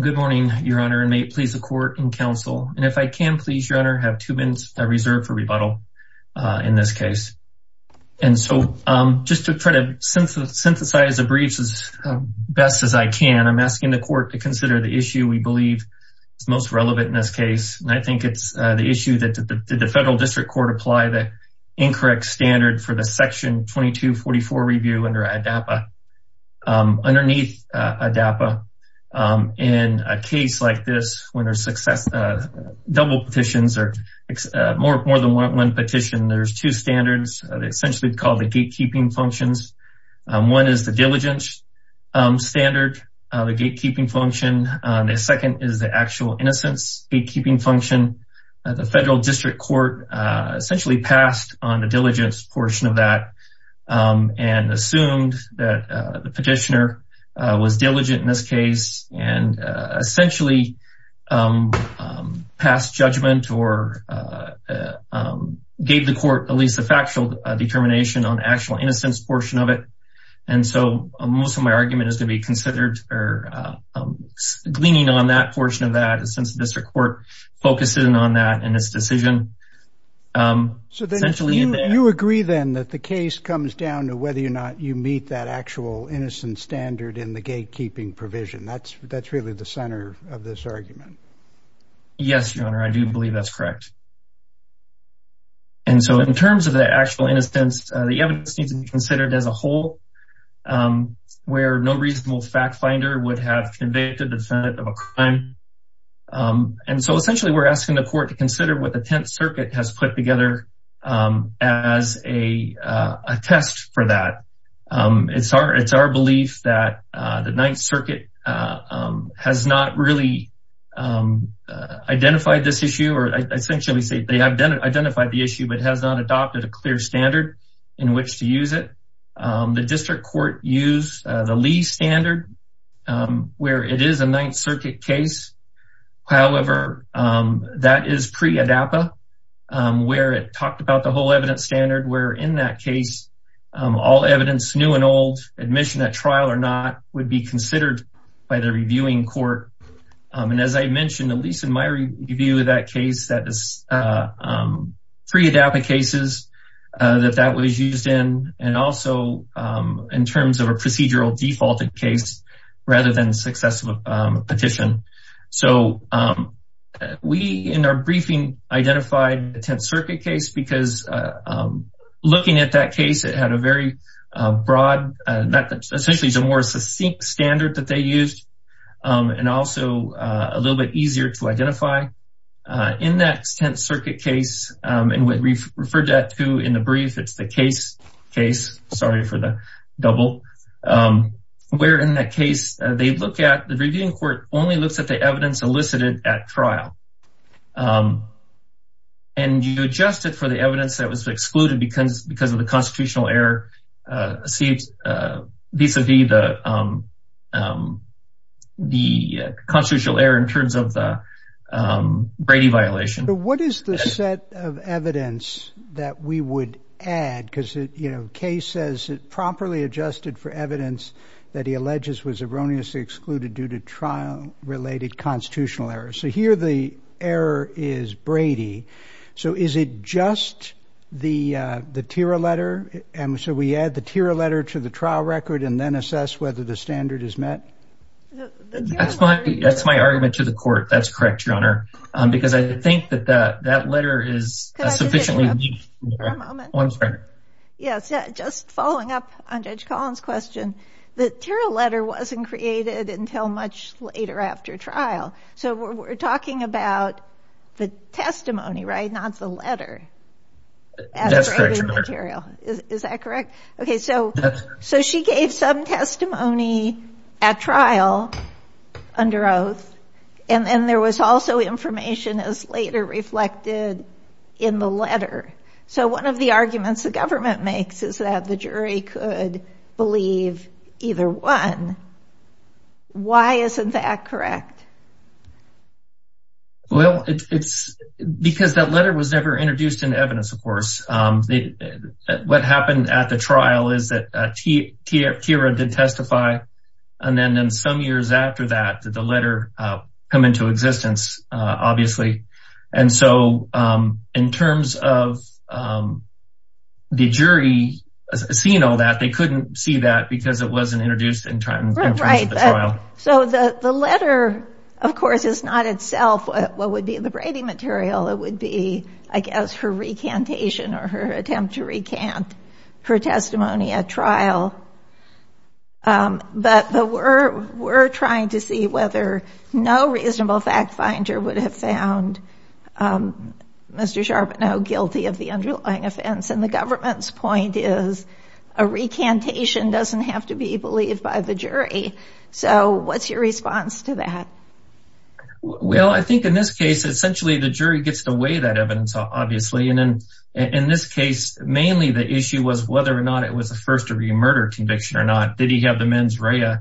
Good morning, Your Honor, and may it please the court and counsel, and if I can, please, Your Honor, have two minutes reserved for rebuttal in this case. And so just to try to synthesize the briefs as best as I can, I'm asking the court to consider the issue we believe is most relevant in this case, and I think it's the issue that did the federal district court apply the incorrect standard for the section 2244 review under ADAPA? Underneath ADAPA, in a case like this, when there's double petitions or more than one petition, there's two standards, essentially called the gatekeeping functions. One is the diligence standard, the gatekeeping function. The second is the actual innocence gatekeeping function. The federal district court essentially passed on the diligence portion of that and assumed that the petitioner was diligent in this case and essentially passed judgment or gave the court at least a factual determination on the actual innocence portion of it. And so most of my argument is going to be considered gleaning on that portion of that, since the district court focuses on that in this decision. So then you agree then that the case comes down to whether or not you meet that actual innocence standard in the gatekeeping provision. That's really the center of this argument. Yes, your honor, I do believe that's correct. And so in terms of the actual innocence, the evidence needs to be considered as a whole, where no reasonable fact finder would have convicted the defendant of a crime. And so essentially, we're asking the court to consider what the Tenth Circuit has put together as a test for that. It's our belief that the Ninth Circuit has not really identified this issue, or essentially say they have identified the issue, but has not adopted a clear standard in which to use it. The district court used the Lee standard, where it is a Ninth Circuit case. However, that is pre-ADAPA, where it talked about the whole evidence standard, where in that case, all evidence new and old, admission at trial or not, would be considered by the reviewing court. And as I mentioned, at least in my review of that case, that is pre-ADAPA cases that that was used in, and also in terms of a procedural defaulted case rather than successive petition. So we, in our briefing, identified the Tenth Circuit case because looking at that case, it had a very broad, that essentially is a more succinct standard that they used, and also a little bit easier to identify. In that Tenth Circuit case, and what we've referred to in the brief, it's the case case, sorry for the double, where in that case, they look at, the reviewing court only looks at the evidence elicited at trial. And you adjust it for the evidence that was excluded because of the constitutional error vis-a-vis the constitutional error in terms of the Brady violation. But what is the set of evidence that we would add? Because, you know, Kay says it properly adjusted for evidence that he alleges was erroneously excluded due to trial-related constitutional errors. So here, the error is Brady. So is it just the TIRA letter? And so we add the TIRA letter to the trial record and then assess whether the standard is met? That's my, that's my argument to the court. That's correct, Your Honor, because I think that that that letter is sufficiently unique. One moment. Oh, I'm sorry. Yes, just following up on Judge Collins' question, the TIRA letter wasn't created until much later after trial. So we're talking about the testimony, right? Not the letter. That's correct, Your Honor. Is that correct? Okay, so she gave some testimony at trial under oath, and then there was also information as later reflected in the letter. So one of the arguments the government makes is that the jury could believe either one. Why isn't that correct? Well, it's because that letter was never introduced in evidence, of course. What happened at the trial is that TIRA did testify. And then some years after that, the letter come into existence, obviously. And so in terms of the jury seeing all that, they couldn't see that because it wasn't introduced in front of the trial. So the letter, of course, is not itself what would be the Brady material. It would be, I guess, her recantation or her attempt to recant her testimony at trial. But we're trying to see whether no reasonable fact finder would have found Mr. Charbonneau guilty of the underlying offense. And the government's point is a recantation doesn't have to be believed by the jury. So what's your response to that? Well, I think in this case, essentially, the jury gets to weigh that evidence, obviously. And in this case, mainly the issue was whether or not it was a first-degree murder conviction or not. Did he have the mens rea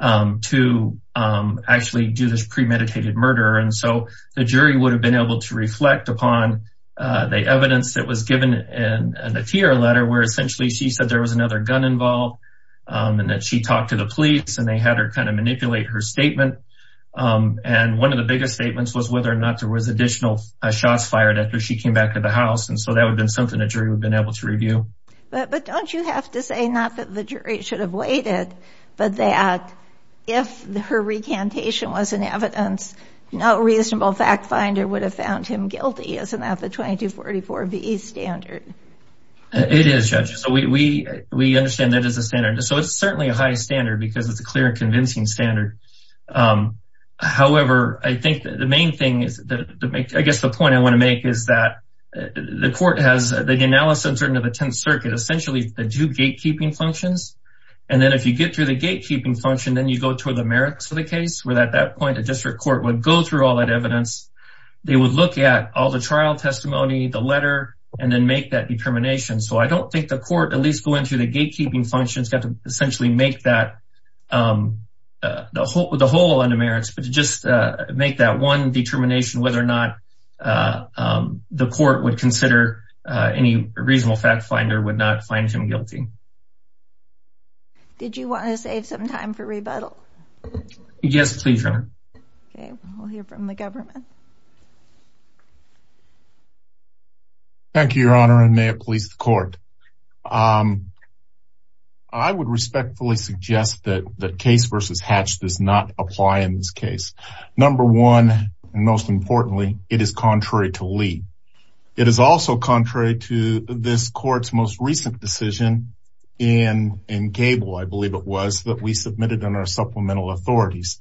to actually do this premeditated murder? And so the jury would have been able to reflect upon the evidence that was given in the TIRA letter, where essentially she said there was another gun involved and that she talked to the police and they had her kind of manipulate her statement. And one of the biggest statements was whether or not there was additional shots fired after she came back to the house. And so that would But don't you have to say, not that the jury should have weighed it, but that if her recantation was an evidence, no reasonable fact finder would have found him guilty? Isn't that the 2244B standard? It is, Judge. So we understand that as a standard. So it's certainly a high standard because it's a clear and convincing standard. However, I think the main thing is, I guess the point I want to make is that the court has the analysis of the Tenth Circuit, essentially the two gatekeeping functions. And then if you get through the gatekeeping function, then you go toward the merits of the case, where at that point, a district court would go through all that evidence. They would look at all the trial testimony, the letter, and then make that determination. So I don't think the court, at least going through the gatekeeping functions, got to essentially make that the whole under merits, but to just make that one determination, whether or not the court would consider any reasonable fact finder would not find him guilty. Did you want to save some time for rebuttal? Yes, please, Your Honor. Okay, we'll hear from the government. Thank you, Your Honor, and may it please the court. I would respectfully suggest that case versus Hatch does not apply in this case. Number one, and most importantly, it is contrary to Lee. It is also contrary to this court's most recent decision in Gable, I believe it was, that we submitted in our supplemental authorities.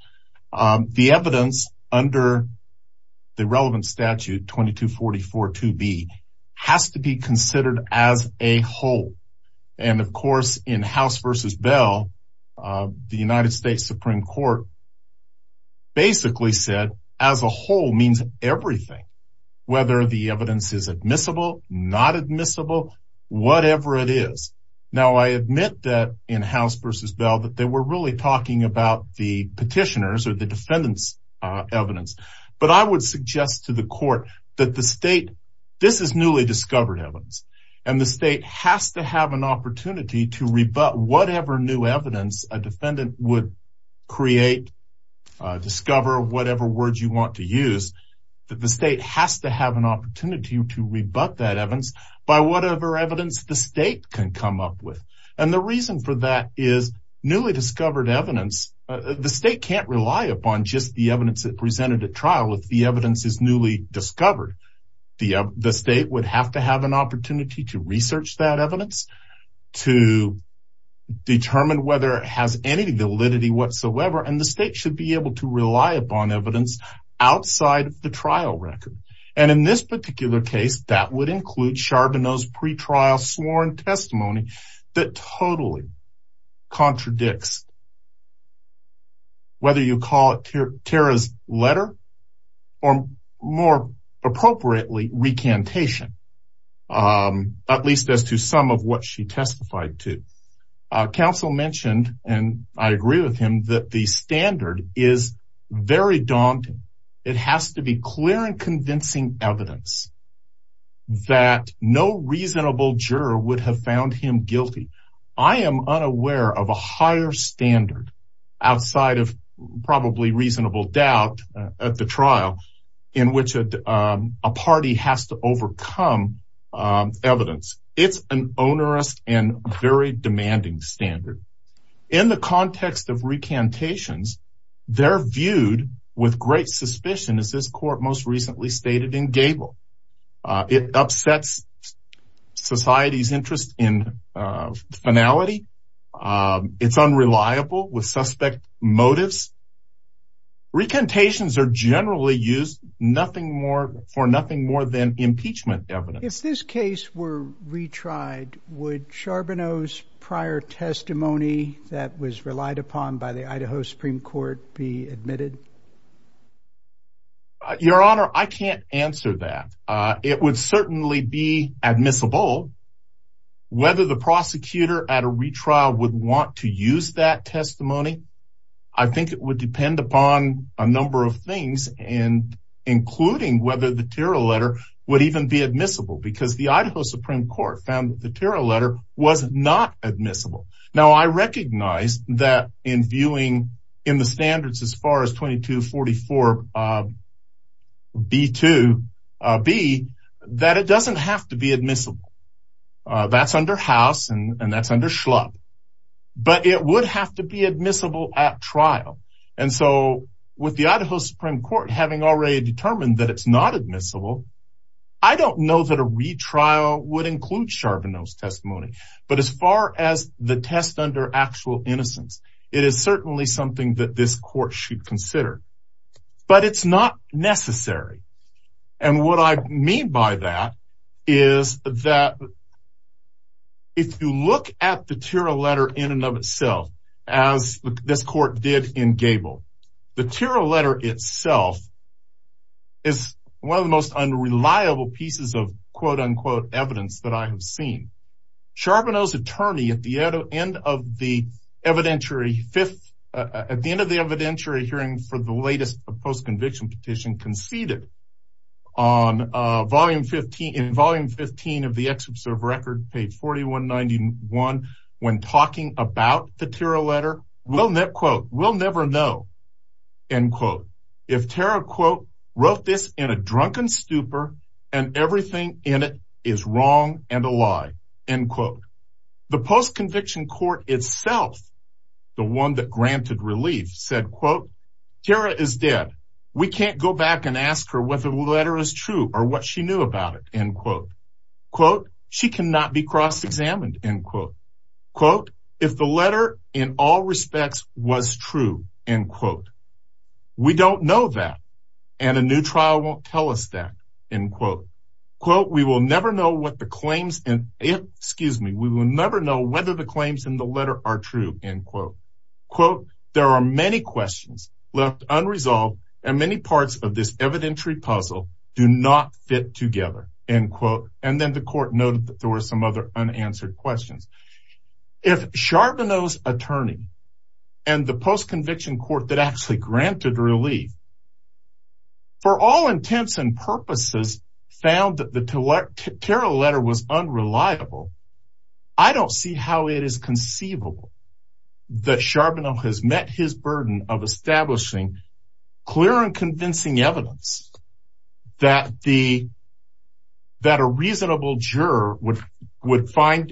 The evidence under the relevant statute 2244-2B has to be considered as a whole. And of course, in House versus Bell, the United States Supreme Court basically said, as a whole means everything, whether the evidence is admissible, not admissible, whatever it is. Now, I admit that in House versus Bell, that they were really talking about the petitioners or the defendants' evidence. But I would suggest to the court that the state, this is newly discovered evidence, and the state has to have an opportunity to rebut whatever new evidence a defendant would create, discover, whatever words you want to use, that the state has to have an opportunity to rebut that evidence by whatever evidence the state can come up with. And the reason for that is newly discovered evidence, the state can't rely upon just the evidence that presented at trial if the evidence is newly discovered. The state would have to have an opportunity to research that evidence, to determine whether it has any validity whatsoever, and the state should be able to rely upon evidence outside of the trial record. And in this particular case, that would include Charbonneau's pretrial sworn testimony that totally contradicts whether you call it Tara's letter or, more appropriately, recantation, at least as to some of what she testified to. Counsel mentioned, and I agree with him, that the standard is very daunting. It has to be clear and convincing evidence that no I am unaware of a higher standard outside of probably reasonable doubt at the trial in which a party has to overcome evidence. It's an onerous and very demanding standard. In the context of recantations, they're viewed with great suspicion, as this court most recently stated in Gable. It upsets society's interest in finality. It's unreliable with suspect motives. Recantations are generally used nothing more for nothing more than impeachment evidence. If this case were retried, would Charbonneau's prior testimony that was relied upon by the answer that it would certainly be admissible. Whether the prosecutor at a retrial would want to use that testimony, I think it would depend upon a number of things, including whether the Tara letter would even be admissible because the Idaho Supreme Court found that the Tara letter was not admissible. Now, I recognize that in viewing in the standards as far as 2244 B2B, that it doesn't have to be admissible. That's under House and that's under Schlupp, but it would have to be admissible at trial. And so with the Idaho Supreme Court having already determined that it's not admissible, I don't know that a retrial would include Charbonneau's but as far as the test under actual innocence, it is certainly something that this court should consider, but it's not necessary. And what I mean by that is that if you look at the Tara letter in and of itself, as this court did in Gable, the Tara letter itself is one of the most unreliable pieces of quote unquote evidence that I have seen. Charbonneau's attorney at the end of the evidentiary fifth, at the end of the evidentiary hearing for the latest post-conviction petition conceded on volume 15, in volume 15 of the excerpt of record page 4191 when talking about the Tara letter, quote, we'll never know, end quote. If Tara quote, wrote this in a drunken stupor and everything in it is wrong and a lie, end quote. The post-conviction court itself, the one that granted relief said, quote, Tara is dead. We can't go back and ask her whether the letter is true or what she knew about it, end quote. Quote, she cannot be cross-examined, end quote. Quote, if the letter in all respects was true, end quote, we don't know that and a trial won't tell us that, end quote. Quote, we will never know what the claims, excuse me, we will never know whether the claims in the letter are true, end quote. Quote, there are many questions left unresolved and many parts of this evidentiary puzzle do not fit together, end quote. And then the court noted that there were some other unanswered questions. If Charbonneau's attorney and the post-conviction court that actually granted relief for all intents and purposes found that the Tara letter was unreliable, I don't see how it is conceivable that Charbonneau has met his burden of establishing clear and convincing evidence that a reasonable juror would find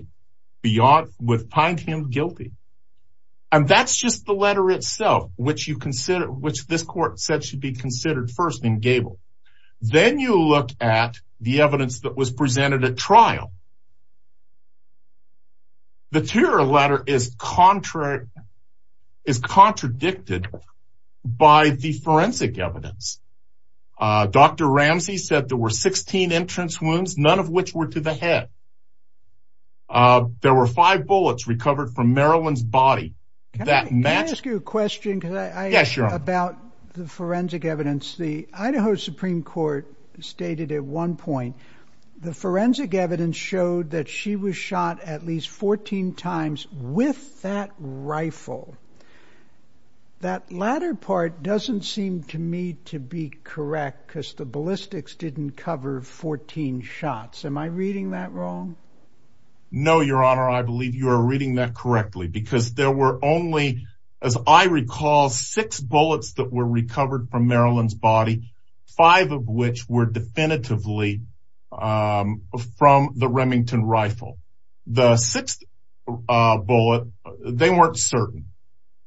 him guilty. And that's just the letter itself, which this court said should be considered first in Gabel. Then you look at the evidence that was presented at trial. The Tara letter is contradicted by the forensic evidence. Dr. Ramsey said there were 16 entrance wounds, none of which were to the head. Uh, there were five bullets recovered from Marilyn's body. That may ask you a question about the forensic evidence. The Idaho Supreme Court stated at one point the forensic evidence showed that she was shot at least 14 times with that rifle. That latter part doesn't seem to me to be correct because the ballistics didn't cover 14 shots. Am I reading that wrong? No, Your Honor. I believe you are reading that correctly because there were only, as I recall, six bullets that were recovered from Marilyn's body, five of which were definitively, um, from the Remington rifle. The sixth, uh, bullet, they weren't certain.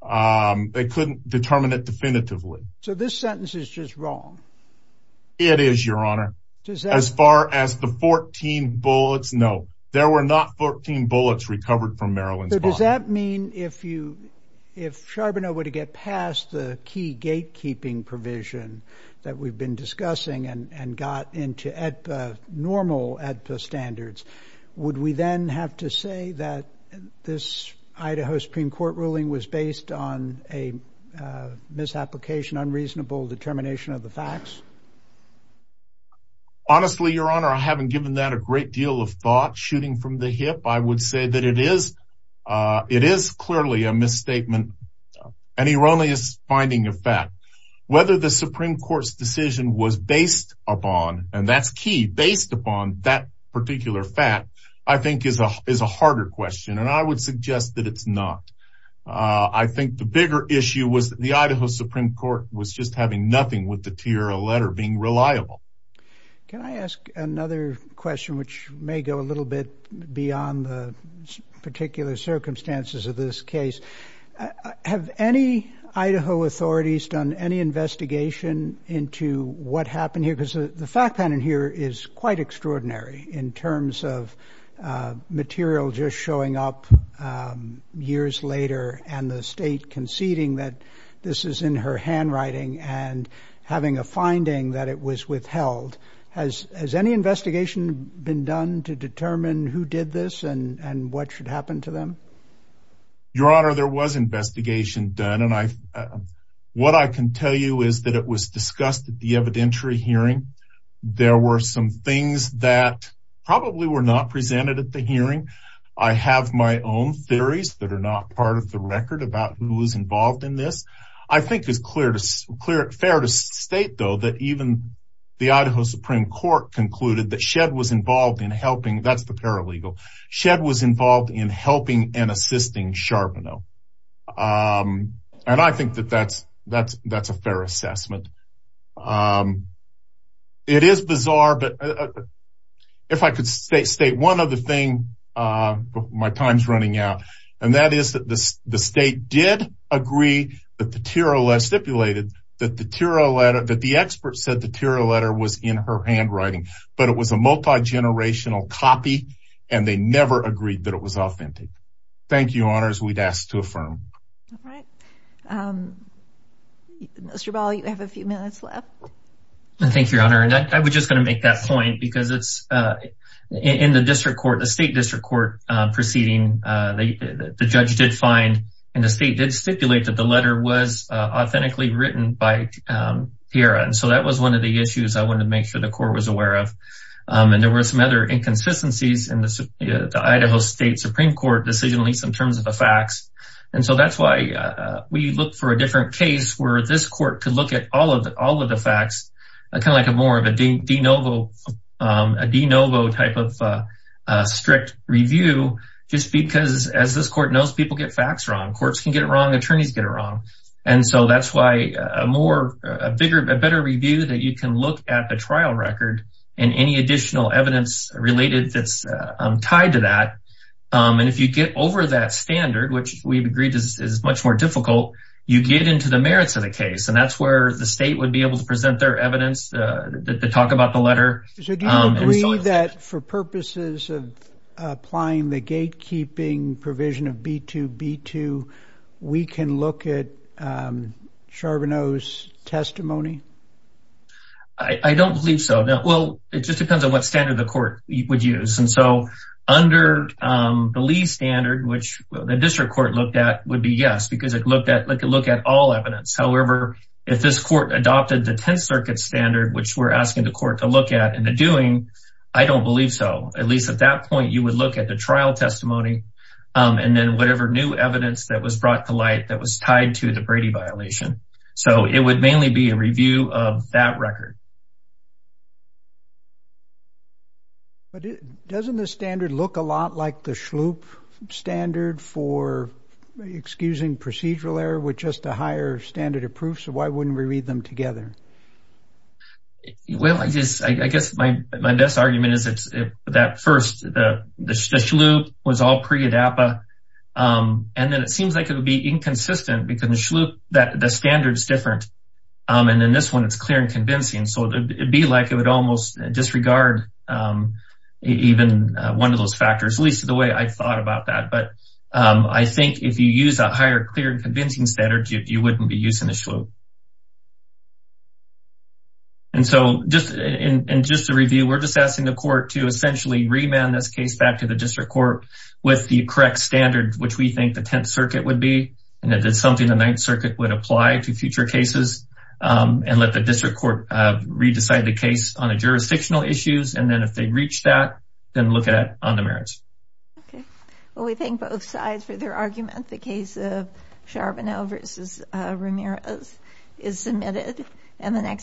Um, they couldn't determine it definitively. So this sentence is just wrong. It is, Your Honor. As far as the 14 bullets, no, there were not 14 bullets recovered from Marilyn's body. So does that mean if you, if Charbonneau were to get past the key gatekeeping provision that we've been discussing and, and got into EDPA, normal EDPA standards, would we then have to say that this Idaho Supreme Court ruling was based on a misapplication, unreasonable determination of the facts? Honestly, Your Honor, I haven't given that a great deal of thought shooting from the hip. I would say that it is, uh, it is clearly a misstatement, an erroneous finding of fact. Whether the Supreme Court's decision was based upon, and that's key, based upon that particular fact, I think is a, is a harder question. And I would suggest that it's not. Uh, I think the bigger issue was the Idaho Supreme Court was just having nothing with the TRL letter being reliable. Can I ask another question, which may go a little bit beyond the particular circumstances of this case? Have any Idaho authorities done any investigation into what happened here? Because the fact pattern here is quite extraordinary in terms of, uh, material just showing up, um, years later and the state conceding that this is in her handwriting and having a finding that it was withheld. Has, has any investigation been done to determine who did this and, and what should happen to them? Your Honor, there was investigation done. And I, uh, what I can tell you is that it was discussed at the evidentiary hearing. There were some things that probably were not presented at the hearing. I have my own theories that are not part of the record about who was involved in this. I think it's clear to, clear, fair to state, though, that even the Idaho Supreme Court concluded that Shedd was involved in helping, that's the paralegal, Shedd was involved in helping and um, it is bizarre, but if I could state, state one other thing, uh, my time's running out, and that is that the, the state did agree that the TIRA letter, stipulated that the TIRA letter, that the expert said the TIRA letter was in her handwriting, but it was a multi-generational copy and they never agreed that it was authentic. Thank you, Your Honors, we'd ask to affirm. All right. Um, Mr. Ball, you have a few minutes left. Thank you, Your Honor. And I was just going to make that point because it's, uh, in the district court, the state district court, uh, proceeding, uh, the, the judge did find and the state did stipulate that the letter was, uh, authentically written by, um, TIRA. And so that was one of the issues I wanted to make sure the court was aware of. Um, and there were some other inconsistencies in the, uh, the Idaho state Supreme court, decisionally, some terms of the facts. And so that's why, uh, we look for a different case where this court could look at all of, all of the facts, uh, kind of like a more of a de novo, um, a de novo type of, uh, uh, strict review, just because as this court knows people get facts wrong, courts can get it wrong, attorneys get it wrong. And so that's why a more, a bigger, a better review that you can look at the trial record and any additional evidence related that's tied to that. Um, and if you get over that standard, which we've agreed is much more difficult, you get into the merits of the case. And that's where the state would be able to present their evidence, uh, to talk about the letter. So do you agree that for purposes of applying the gatekeeping provision of B2B2, we can look at, um, Charbonneau's testimony? I don't believe so. Now, well, it just depends on what standard the court would use. And so under, um, the Lee standard, which the district court looked at would be yes, because it looked at like a look at all evidence. However, if this court adopted the 10th circuit standard, which we're asking the court to look at in the doing, I don't believe so. At least at that point, you would look at the trial testimony, um, and then whatever new evidence that was brought to to the Brady violation. So it would mainly be a review of that record. But doesn't the standard look a lot like the Schlup standard for excusing procedural error with just a higher standard of proof? So why wouldn't we read them together? Well, I just, I guess my, my best argument is it's that first, the, the, the Schlup was all inconsistent because the Schlup, that the standard is different. Um, and then this one, it's clear and convincing. So it'd be like, it would almost disregard, um, even one of those factors, at least the way I thought about that. But, um, I think if you use a higher, clear and convincing standard, you wouldn't be using the Schlup. And so just in, in just a review, we're just asking the court to essentially remand this case back to the district court with the correct standard, which we think the 10th circuit would be. And it is something the 9th circuit would apply to future cases, um, and let the district court, uh, re-decide the case on the jurisdictional issues. And then if they reach that, then look at, on the merits. Okay. Well, we thank both sides for their argument. The case of Charbonneau versus, uh, Ramirez is submitted.